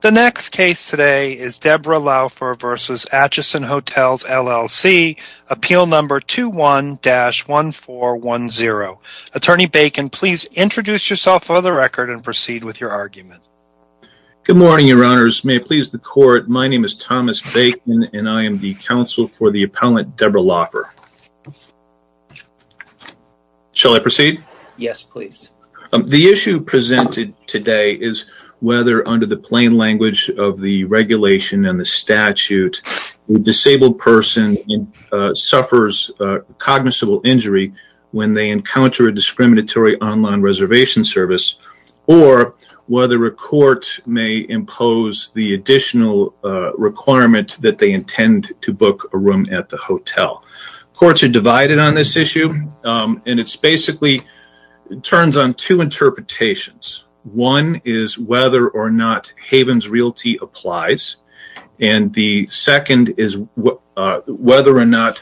The next case today is Deborah Lauffer v. Acheson Hotels, LLC, Appeal Number 21-1410. Attorney Bacon, please introduce yourself for the record and proceed with your argument. Good morning, Your Honors. May it please the Court, my name is Thomas Bacon and I am the counsel for the appellant Deborah Lauffer. Shall I proceed? Yes, please. The issue presented today is whether under the plain language of the regulation and the statute, a disabled person suffers cognizable injury when they encounter a discriminatory online reservation service or whether a court may impose the additional requirement that they intend to book a room at the hotel. Courts are divided on this issue and it basically turns on two interpretations. One is whether or not Havens Realty applies and the second is whether or not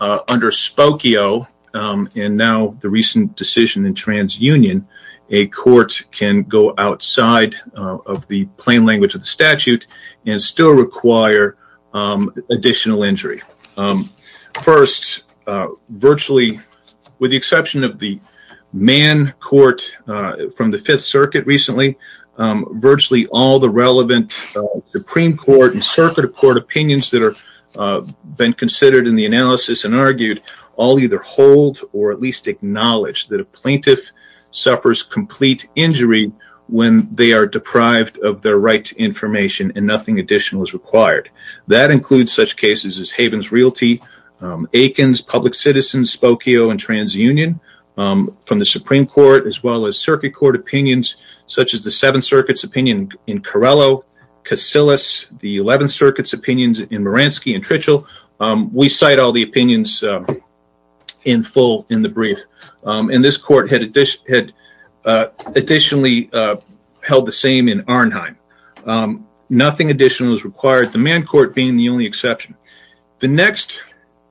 under Spokio and now the recent decision in TransUnion, a court can go outside of the plain language of the statute and still require additional injury. First, virtually, with the exception of the Supreme Court from the Fifth Circuit recently, virtually all the relevant Supreme Court and Circuit of Court opinions that have been considered in the analysis and argued all either hold or at least acknowledge that a plaintiff suffers complete injury when they are deprived of their right to information and nothing additional is required. That includes such cases as Havens Realty, Aikens, Public Citizens, Spokio, and TransUnion from the Supreme Court as well as Circuit Court opinions such as the Seventh Circuit's opinion in Carello, Casillas, the Eleventh Circuit's opinions in Maransky and Tritchell. We cite all the opinions in full in the brief and this court had additionally held the same in Arnheim. Nothing additional is required, the main court being the only exception. The next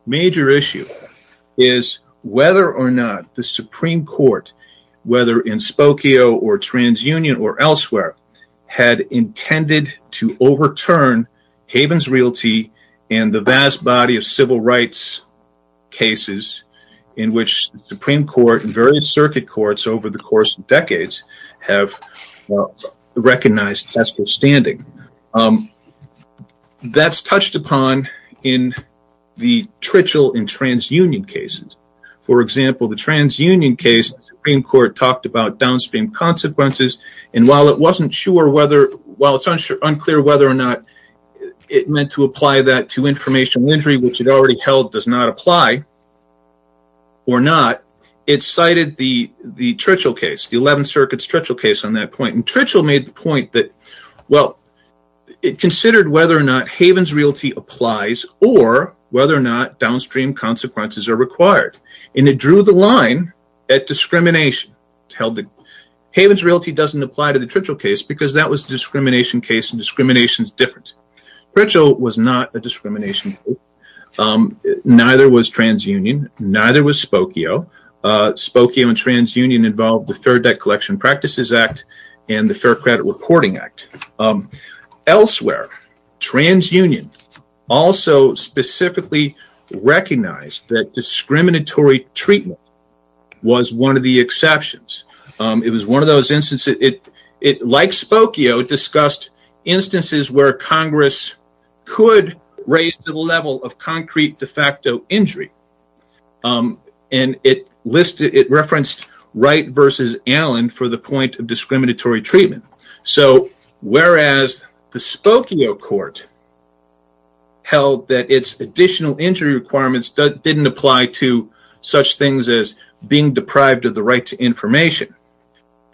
major issue is whether or not the Supreme Court, whether in Spokio or TransUnion or elsewhere, had intended to overturn Havens Realty and the vast body of civil rights cases in which the Supreme Court and various Circuit Courts over the course of decades have recognized test of standing. That's touched upon in the Tritchell and TransUnion cases. For example, the TransUnion case, the Supreme Court talked about downstream consequences and while it wasn't sure whether, while it's unclear whether or not it meant to apply that to information injury which it already held does not apply or not, it cited the Tritchell case, the Eleventh Circuit's Tritchell case on that point and Tritchell made the point that, well, it considered whether or not Havens Realty applies or whether or not downstream consequences are required and it drew the line at discrimination. Havens Realty doesn't apply to the Tritchell case because that was neither was TransUnion, neither was Spokio. Spokio and TransUnion involved the Fair Debt Collection Practices Act and the Fair Credit Reporting Act. Elsewhere, TransUnion also specifically recognized that discriminatory treatment was one of the exceptions. It was one of those instances, like Spokio, discussed instances where Congress could raise the level of concrete de facto injury and it referenced Wright v. Allen for the point of discriminatory treatment. So, whereas the Spokio court held that its additional injury requirements didn't apply to such things as being deprived of the right to information,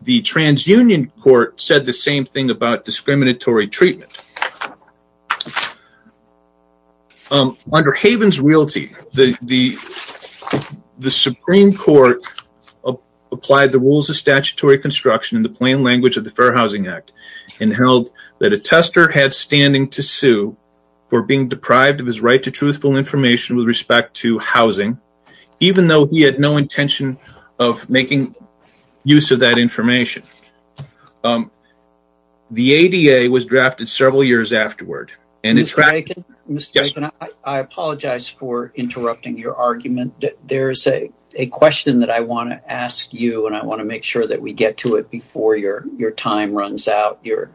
the TransUnion court said the same thing about discriminatory treatment. Under Havens Realty, the Supreme Court applied the rules of statutory construction in the plain language of the Fair Housing Act and held that a tester had standing to sue for being deprived of his right to truthful information with respect to housing, even though he had no intention of making use of that information. The ADA was drafted several years afterward. Mr. Bacon, I apologize for interrupting your argument. There's a question that I want to ask you and I want to make sure that we get to it before your time runs out. You're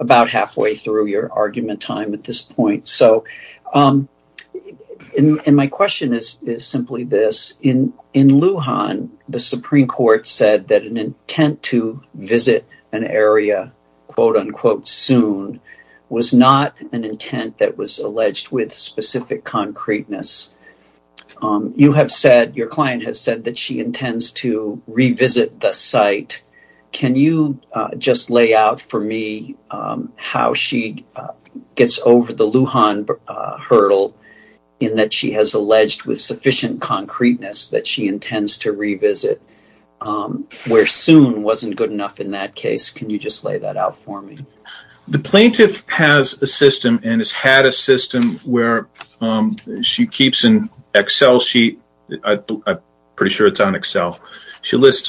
about halfway through your argument time at this point. My question is simply this. In Lujan, the Supreme Court said that an intent to visit an area quote-unquote soon was not an intent that was alleged with specific concreteness. You have said, your client has said that she intends to revisit the site. Can you just lay out for me how she gets over the Lujan hurdle in that she has alleged with sufficient concreteness that she intends to revisit, where soon wasn't good enough in that case? Can you just lay that out for me? The plaintiff has a system and has had a system where she lists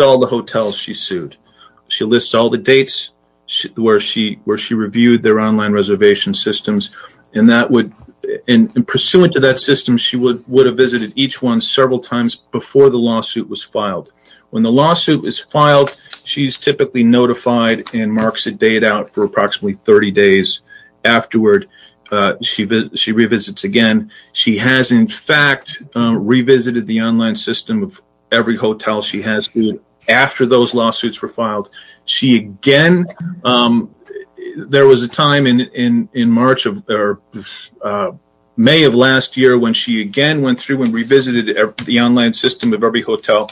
all the hotels she sued. She pursuant to that system, she would have visited each one several times before the lawsuit was filed. When the lawsuit is filed, she's typically notified and marks a date out for approximately 30 days. Afterward, she revisits again. She has in fact, revisited the online system of every hotel she has sued after those lawsuits were filed. There was a time in May of last year when she again went through and revisited the online system of every hotel.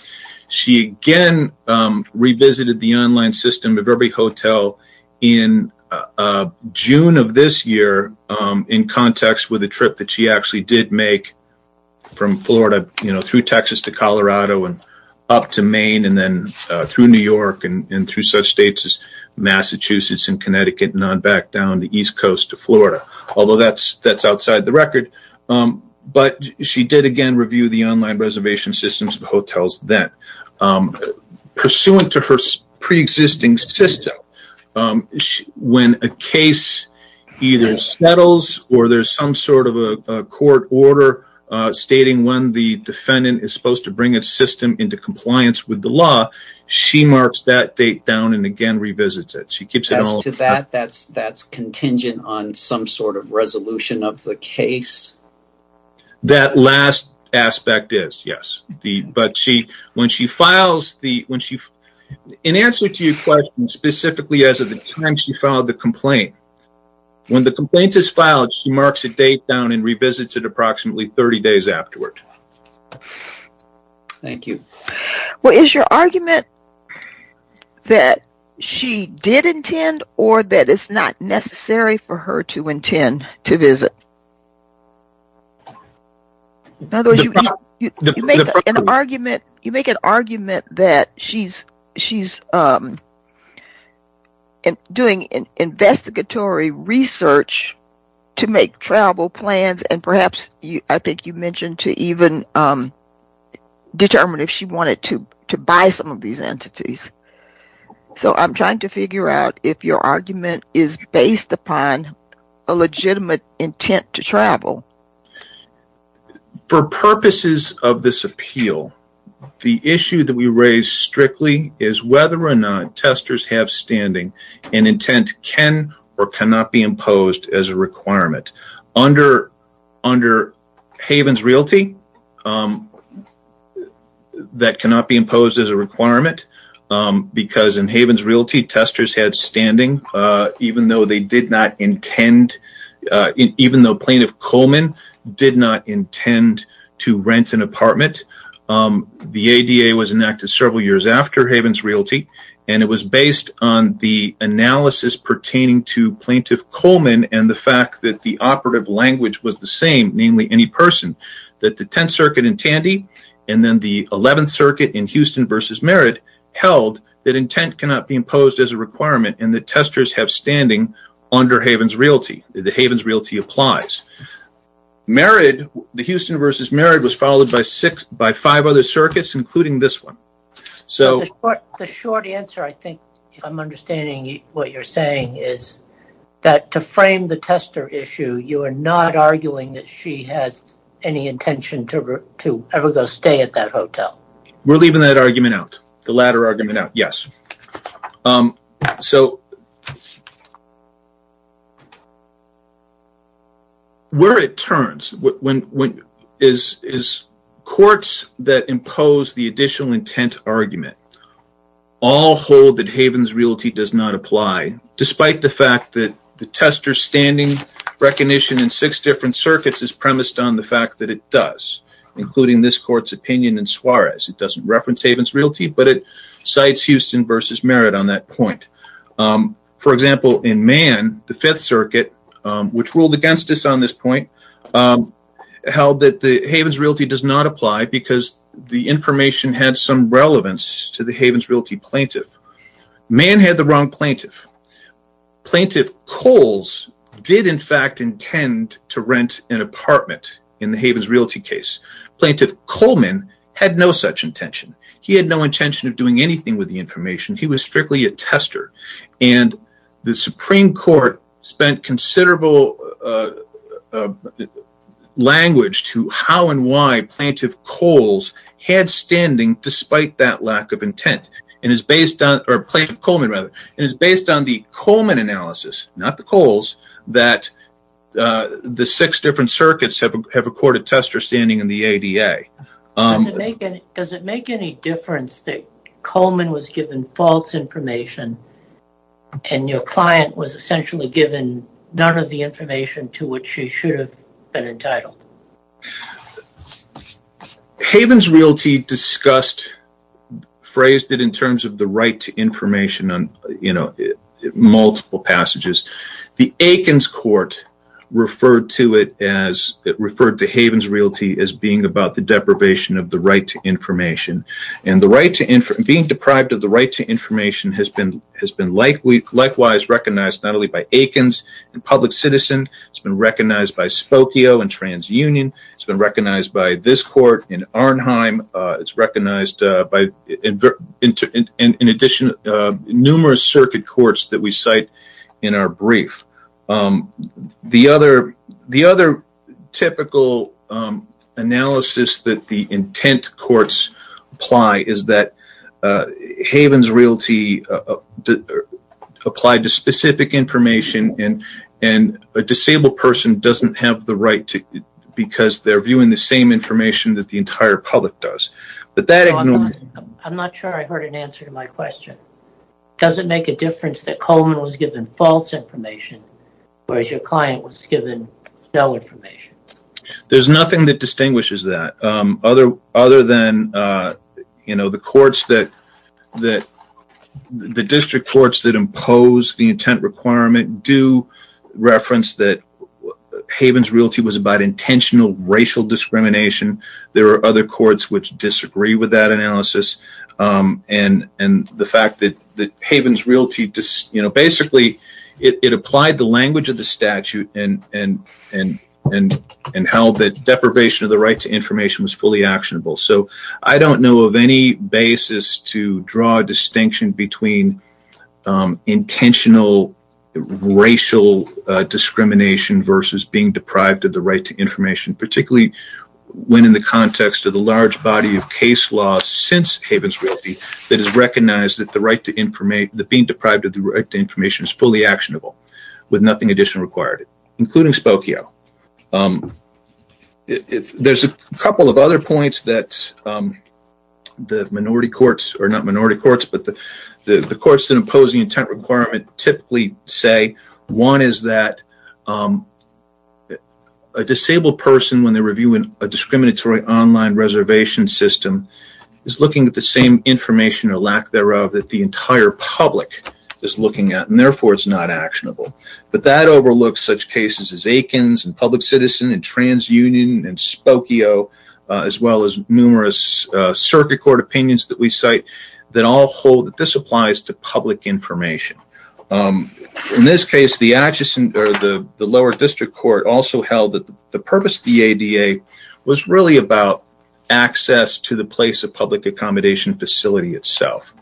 She again revisited the online system of every hotel in June of this year in context with a trip that she actually did make from Florida through Texas to Colorado and up to Maine and then through New York and through such states as Massachusetts and Connecticut and on back down the east coast to Florida. Although that's outside the record, but she did again review the online reservation systems of hotels then. Pursuant to her pre-existing system, when a case either settles or there's some sort of a court order stating when the defendant is supposed to bring a system into compliance with the law, she marks that date down and again revisits it. As to that, that's contingent on some sort of resolution of the case? That last aspect is, yes. In answer to your question specifically as of the time she filed the complaint, when the complaint is filed she marks a date down and revisits it approximately 30 days afterward. Thank you. Is your argument that she did intend or that it's not necessary for her to intend to visit? You make an argument that she's doing an investigatory research to make travel plans and perhaps I think you mentioned to even determine if she wanted to a legitimate intent to travel. For purposes of this appeal, the issue that we raise strictly is whether or not testers have standing and intent can or cannot be imposed as a requirement. Under Havens Realty, that cannot be imposed as a requirement because in Havens Realty, testers had standing even though plaintiff Coleman did not intend to rent an apartment. The ADA was enacted several years after Havens Realty and it was based on the analysis pertaining to plaintiff Coleman and the fact that the operative language was the same, namely any person, that the 10th Circuit in Tandy and then the 11th Circuit in Houston v. Merritt held that intent cannot be imposed as a requirement and that testers have standing under Havens Realty. The Havens Realty applies. The Houston v. Merritt was followed by five other circuits including this one. The short answer I think I'm understanding what you're saying is that to frame the tester issue, you are not arguing that she has any intention to ever go at that hotel. We're leaving that argument out, the latter argument out, yes. Where it turns is courts that impose the additional intent argument all hold that Havens Realty does not apply despite the fact that the tester standing recognition in six different circuits is premised on the fact that it does, including this court's opinion in Suarez. It doesn't reference Havens Realty but it cites Houston v. Merritt on that point. For example, in Mann, the 5th Circuit, which ruled against us on this point, held that the Havens Realty does not apply because the information had some relevance to the Havens Realty plaintiff. Mann had the wrong plaintiff. Plaintiff Coles did in fact intend to rent an apartment in the Havens Realty case. Plaintiff Coleman had no such intention. He had no intention of doing anything with the information. He was strictly a tester and the Supreme Court spent considerable language to how and why Plaintiff Coles had standing despite that lack of intent. It is based on the Coleman analysis, not the Coles, that the six different circuits have a courted tester standing in the ADA. Does it make any difference that Coleman was given false information and your client was essentially given none of the information to which she should have been entitled? Havens Realty phrased it in terms of the right to information on multiple passages. The Aikens Court referred to Havens Realty as being about the deprivation of the right to information. Being deprived of the right to information has been likewise recognized not transunion. It has been recognized by this court in Arnheim. It is recognized by in addition numerous circuit courts that we cite in our brief. The other typical analysis that the intent courts apply is that Havens Realty applied to specific information and a disabled person does not have the right because they are viewing the same information that the entire public does. I am not sure I heard an answer to my question. Does it make a difference that Coleman was given false information whereas your client was given no information? There is nothing that distinguishes that other than the courts that impose the intent requirement do reference that Havens Realty was about intentional racial discrimination. There are other courts that disagree with that analysis. The fact that Havens Realty basically applied the language of the statute and held that deprivation of the right to information was fully actionable. I do not know of any basis to draw a distinction between intentional racial discrimination versus being deprived of the right to information particularly when in the context of the large body of case law since Havens Realty that is recognized that being deprived of the right to information is fully actionable with nothing additional required including Spokio. There are a couple of other points that the minority courts or not minority courts but the courts that impose the intent requirement typically say one is that a disabled person when they are reviewing a discriminatory online reservation system is looking at the same information or lack thereof that the entire public is looking at and therefore it is not actionable. That overlooks such cases as Akins and public citizen and TransUnion and Spokio as well as numerous circuit court opinions that we cite that all hold that this applies to public information. In this case, the lower district court also held that the purpose of the ADA was really about access to the place of public accommodation facility itself.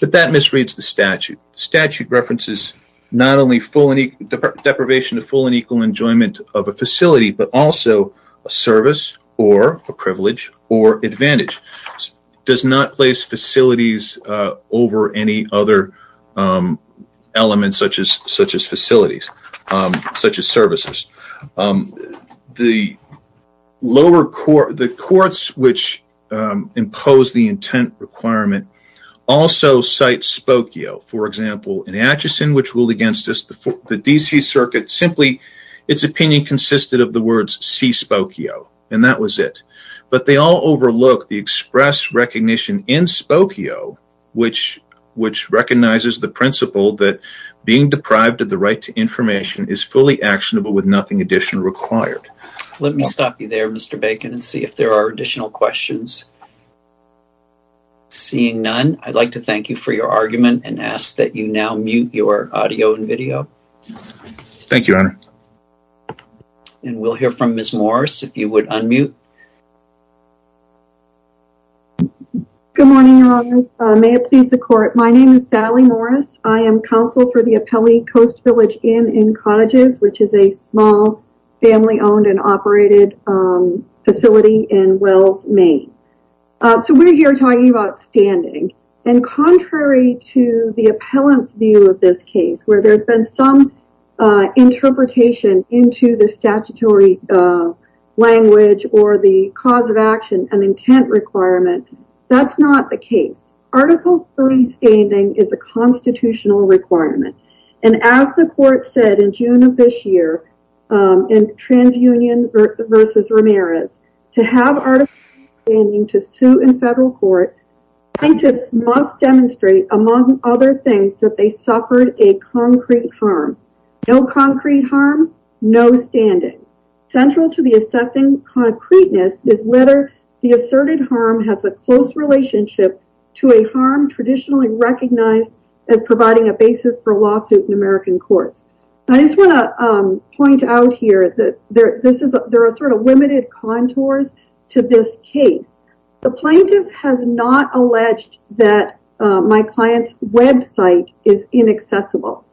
That misreads the statute. The statute references not only deprivation of full and equal enjoyment of a facility but also a service or a privilege or advantage. It does not place facilities over any other elements such as facilities such as services. The lower court, the courts which impose the intent requirement also cite Spokio. For example, in Atchison which ruled against the DC circuit, simply its opinion consisted of the words C Spokio and that was it. They all overlook the express recognition in Spokio which recognizes the principle that being deprived of the right to information is fully actionable with nothing additional required. Let me stop you there Mr. Bacon and see if there are additional questions. Seeing none, I'd like to thank you for your argument and ask that you now mute your audio and video. Thank you, Honor. And we'll hear from Ms. Morris if you would unmute. Good morning, Your Honor. May it please the court. My name is Sally Morris. I am counsel for the in cottages which is a small family owned and operated facility in Wells, Maine. So we're here talking about standing and contrary to the appellant's view of this case where there's been some interpretation into the statutory language or the cause of action and intent requirement, that's not the case. Article 3 standing is a constitutional requirement and as the court said in June of this year in TransUnion v. Ramirez, to have article 3 standing to suit in federal court, scientists must demonstrate among other things that they suffered a concrete harm. No concrete harm, no standing. Central to the assessing concreteness is whether the asserted harm has a close relationship to a harm traditionally recognized as providing a lawsuit in American courts. I just want to point out here that there are sort of limited contours to this case. The plaintiff has not alleged that my client's website is inaccessible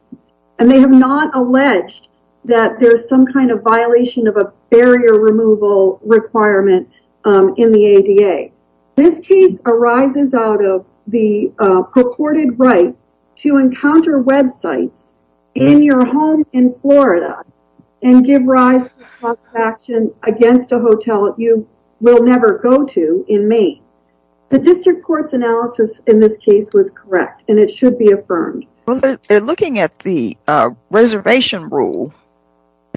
and they have not alleged that there's some kind of violation of a barrier removal requirement in the ADA. This case arises out of the purported right to encounter websites in your home in Florida and give rise to action against a hotel that you will never go to in Maine. The district court's analysis in this case was correct and it should be affirmed. Well they're looking at the reservation rule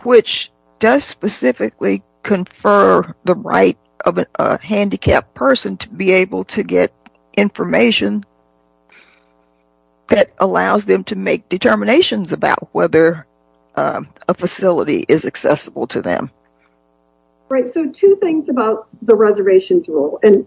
which does specifically confer the right of a handicapped person to be able to get information that allows them to make determinations about whether a facility is accessible to them. Right, so two things about the reservations rule and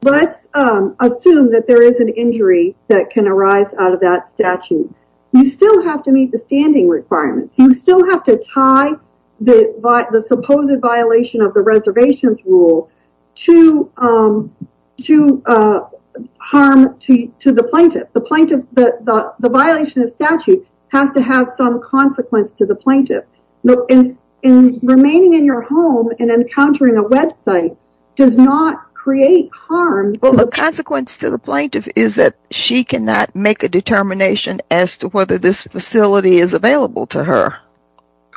let's assume that there is an injury that can arise out of that statute. You still have to meet the standing requirements. You still have to tie the supposed violation of the reservations rule to harm to the plaintiff. The violation of statute has to have some consequence to the plaintiff. Remaining in your home and encountering a website does not create harm. Well the consequence to the plaintiff is that she cannot make a determination as to whether this facility is available to her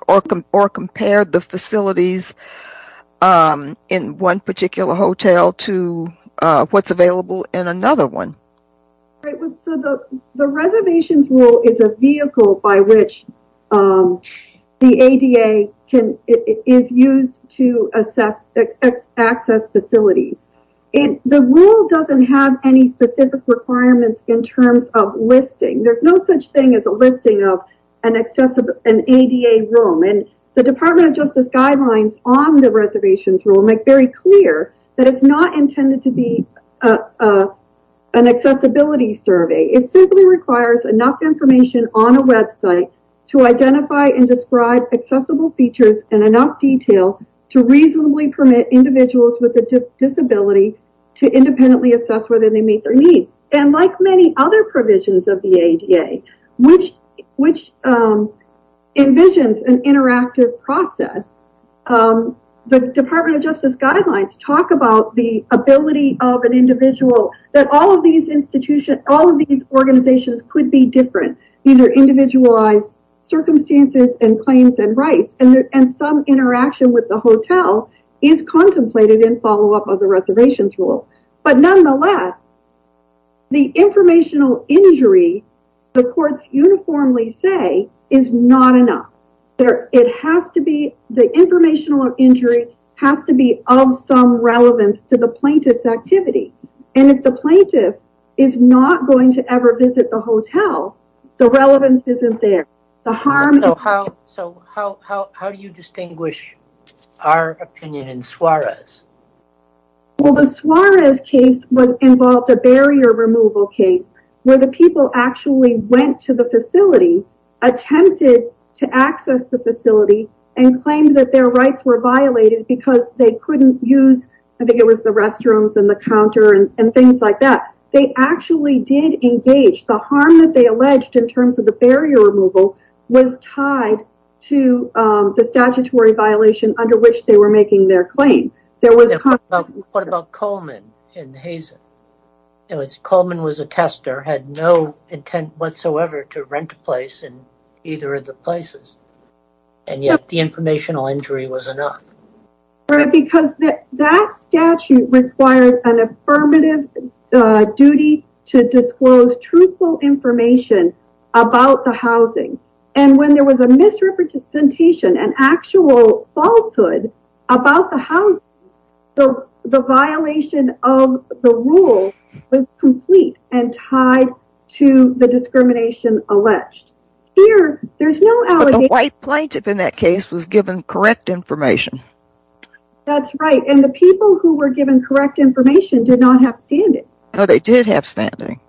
or compare the facilities in one particular hotel to what's available in another one. So the reservations rule is a vehicle by which the ADA is used to access facilities. The rule doesn't have any specific requirements in terms of listing. There's no such thing as a listing of an ADA rule. The Department of Justice guidelines on the reservations rule make very clear that it's not intended to be an accessibility survey. It simply requires enough information on a website to identify and describe accessible features and enough detail to reasonably permit individuals with a disability to independently assess whether they meet their needs. And like many other provisions of the ADA, which envisions an interactive process, the Department of Justice guidelines talk about the ability of an individual that all of these institutions, all of these organizations could be different. These are individualized circumstances and claims and rights and some interaction with the hotel is contemplated in follow-up of the reservations rule. But nonetheless, the informational injury the courts uniformly say is not enough. The informational injury has to be of some relevance to the plaintiff's activity. And if the plaintiff is not going to ever visit the hotel, the relevance isn't there. So how do you distinguish our opinion in Suarez? Well, the Suarez case was involved a barrier removal case where the people actually went to the facility, attempted to access the facility and claimed that their rights were violated because they couldn't use, I think it was the restrooms and the counter and things like that. They actually did engage the harm that they alleged in terms of the barrier removal was tied to the statutory violation under which they were making their claim. What about Coleman and Hazen? It was Coleman was a tester, had no intent whatsoever to rent a place in either of the places and yet the informational injury was enough. Because that statute requires an affirmative duty to disclose truthful information about the housing. And when there was a misrepresentation, an actual falsehood about the house, the violation of the rule was complete and tied to the discrimination alleged. The white plaintiff in that case was given correct information. That's right. And the people who were given correct information did not have standing. No, they did have standing.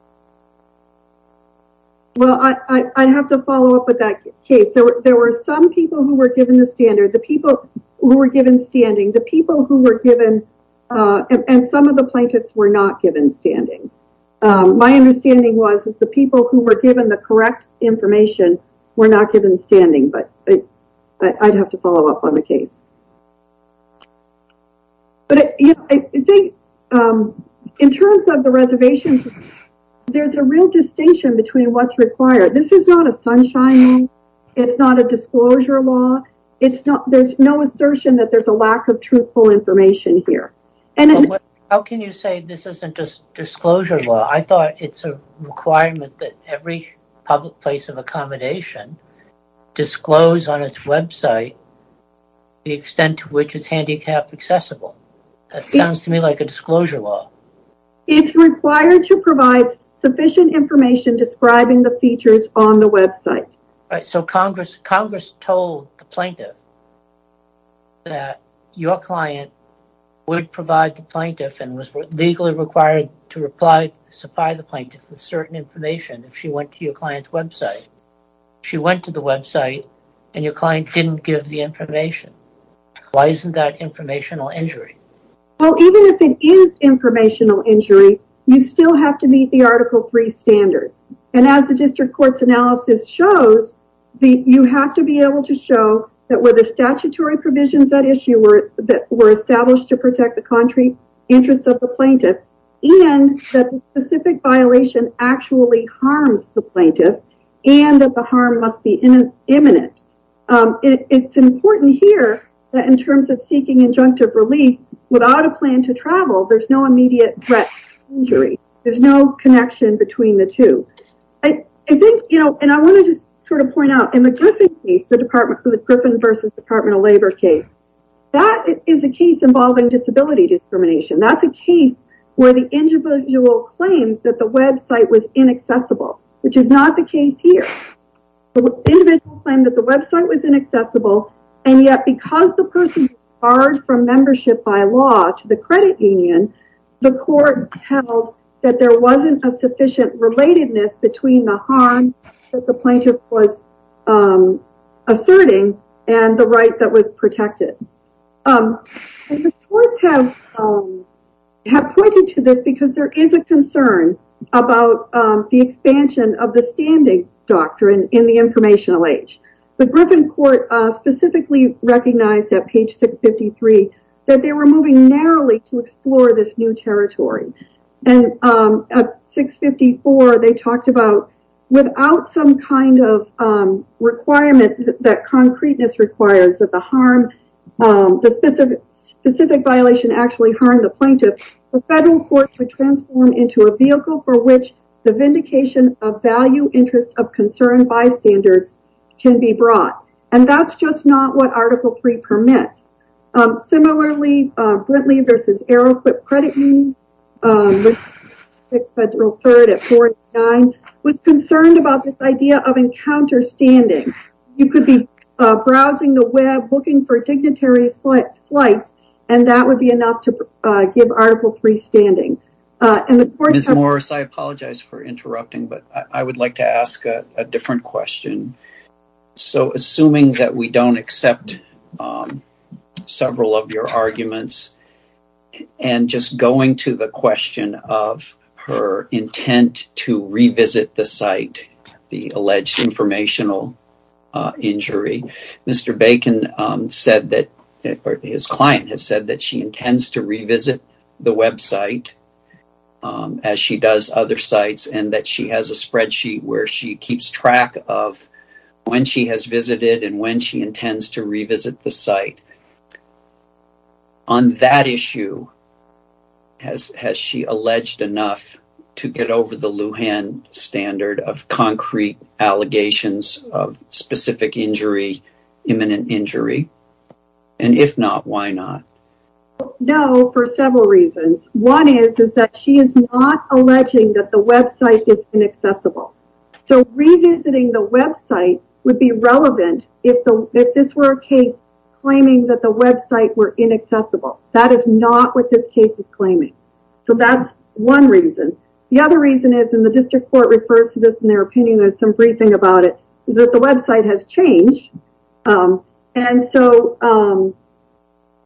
Well, I have to follow up with that case. There were some people who were given the standard, the people who were given standing, the people who were given and some of the plaintiffs were not given standing. My understanding was is the people who were given the correct information were not given standing, but I'd have to follow up on the case. But I think in terms of the reservations, there's a real distinction between what's required. This is not a sunshine. It's not a disclosure law. There's no assertion that there's a lack of information here. How can you say this isn't a disclosure law? I thought it's a requirement that every public place of accommodation disclose on its website the extent to which it's handicapped accessible. That sounds to me like a disclosure law. It's required to provide sufficient information describing the features on the website. So, Congress told the plaintiff that your client would provide the plaintiff and was legally required to supply the plaintiff with certain information if she went to your client's website. She went to the website and your client didn't give the information. Why isn't that informational injury? Well, even if it is informational injury, you still have to meet article 3 standards. As the district court's analysis shows, you have to be able to show that where the statutory provisions that issue were established to protect the country interests of the plaintiff and that the specific violation actually harms the plaintiff and that the harm must be imminent. It's important here that in terms of seeking injunctive relief, without a plan to travel, there's no immediate threat to injury. There's no connection between the two. I think, you know, and I want to just sort of point out in the Griffin case, the department for the Griffin versus Department of Labor case, that is a case involving disability discrimination. That's a case where the individual claimed that the website was inaccessible, which is not the case here. The individual claimed that the website was inaccessible and yet because the person was barred from membership by law to the credit union, the court held that there wasn't a sufficient relatedness between the harm that the plaintiff was asserting and the right that was protected. The courts have pointed to this because there is a concern about the expansion of the standing doctrine in the informational age. The Griffin court specifically recognized at page 653 that they were moving narrowly to explore this new territory. And at 654, they talked about without some kind of requirement that concreteness requires that the harm, the specific violation actually harmed the plaintiff, the federal court would transform into a vehicle for which the vindication of value interest of concern bystanders can be brought. And that's just not what Article III permits. Similarly, Brintley versus Aeroquip credit union referred at 49 was concerned about this idea of encounter standing. You could be browsing the web, looking for dignitary slides, and that would be enough to give Article III standing. Ms. Morris, I apologize for interrupting, but I would like to ask a different question. So assuming that we don't accept several of your arguments and just going to the question of her intent to revisit the site, the alleged informational injury, Mr. Bacon said that his client has said that she intends to revisit the website as she does other sites and that she has a spreadsheet where she keeps track of when she has visited and when she intends to revisit the site. On that issue, has she alleged enough to get over the Lujan standard of concrete allegations of specific injury, imminent injury? And if not, why not? No, for several reasons. One is that she is not alleging that the website is inaccessible. So revisiting the website would be relevant if this were a case claiming that the website were inaccessible. That is not what this case is claiming. So that's one reason. The other reason is, and the district court refers to this in their opinion, there's some briefing about it, is that the website has changed. And so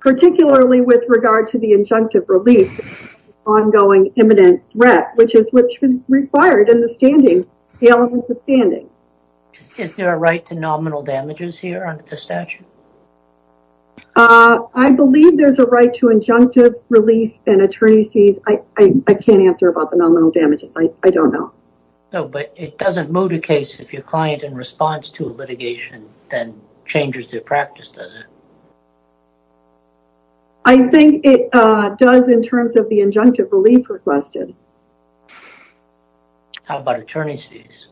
particularly with regard to the injunctive relief, ongoing imminent threat, which is what's required in the standing, the elements of standing. Is there a right to nominal damages here under the statute? I believe there's a right to injunctive relief and attorney's fees. I can't answer about the nominal damages. I don't know. No, but it doesn't move the case if your client in response to litigation then changes their practice, does it? I think it does in terms of the injunctive relief requested. How about attorney's fees?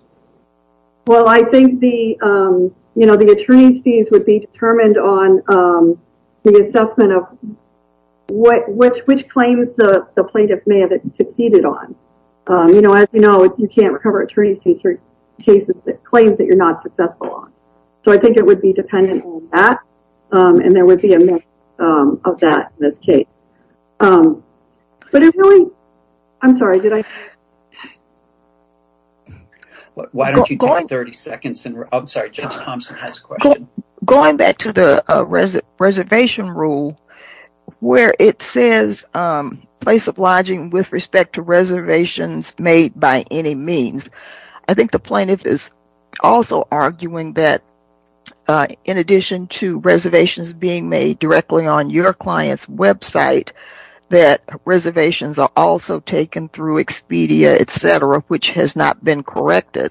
Well, I think the attorney's fees would be determined on the assessment of which claims the plaintiff may have succeeded on. You know, as you know, you can't recover attorney's fees for cases that claims that you're not successful on. So I think it would be dependent on that and there would be a mix of that in this case. But it really, I'm sorry, did I? Why don't you take 30 seconds? I'm sorry, Judge Thompson has a question. Going back to the reservation rule where it says place of lodging with respect to reservations made by any means, I think the plaintiff is also arguing that in addition to reservations being made directly on your client's website that reservations are also taken through Expedia, etc., which has not been corrected.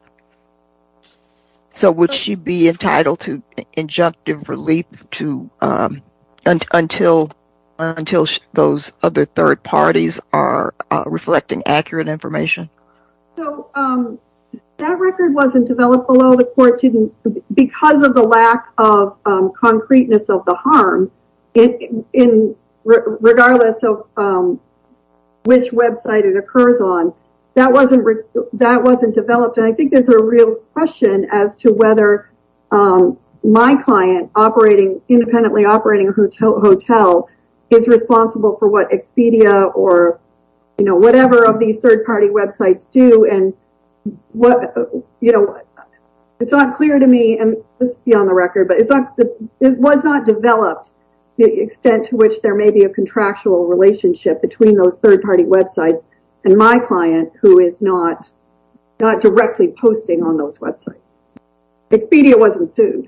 So would she be entitled to injunctive relief until those other third parties are reflecting accurate information? So that record wasn't developed below the court because of the lack of concreteness of the harm regardless of which website it occurs on. That wasn't developed and I think there's a real question as to whether my client independently operating a hotel is responsible for what Expedia or whatever of these third party websites do. It's not clear to me, and this is beyond the record, but it was not developed to the extent to which there may be a contractual relationship between third party websites and my client who is not directly posting on those websites. Expedia wasn't sued.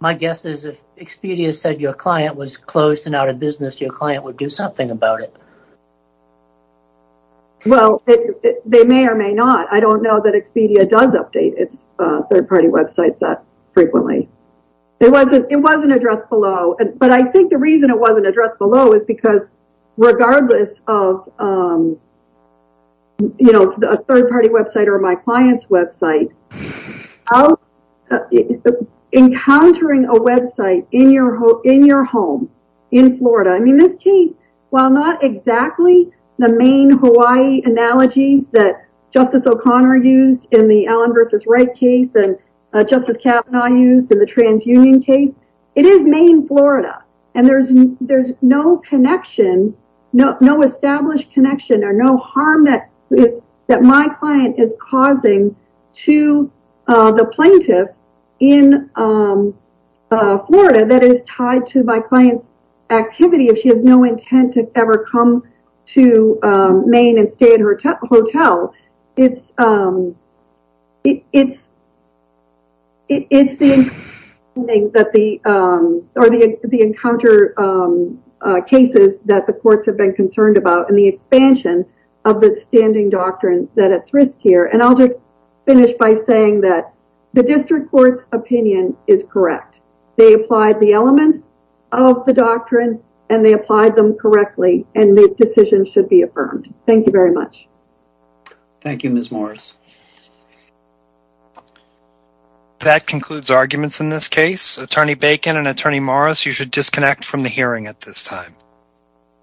My guess is if Expedia said your client was closed and out of business, your client would do something about it. Well, they may or may not. I don't know that Expedia does update its third party websites that frequently. It wasn't addressed below, but I think the reason it wasn't addressed below is because regardless of a third party website or my client's website, encountering a website in your home in Florida, I mean, this case, while not exactly the main Hawaii analogies that Justice O'Connor used in the Allen versus Wright case and Justice Kavanaugh used in the transunion case, it is Maine, Florida, and there's no connection, no established connection or no harm that my client is causing to the plaintiff in Florida that is tied to my client's activity if she has no intent to ever come to Maine and stay in her hotel. It's the encounter cases that the courts have been concerned about and the expansion of the standing doctrine that it's riskier. And I'll just finish by saying that the district court's opinion is correct. They applied the elements of the doctrine and they applied them Thank you very much. Thank you, Ms. Morris. That concludes arguments in this case. Attorney Bacon and Attorney Morris, you should disconnect from the hearing at this time.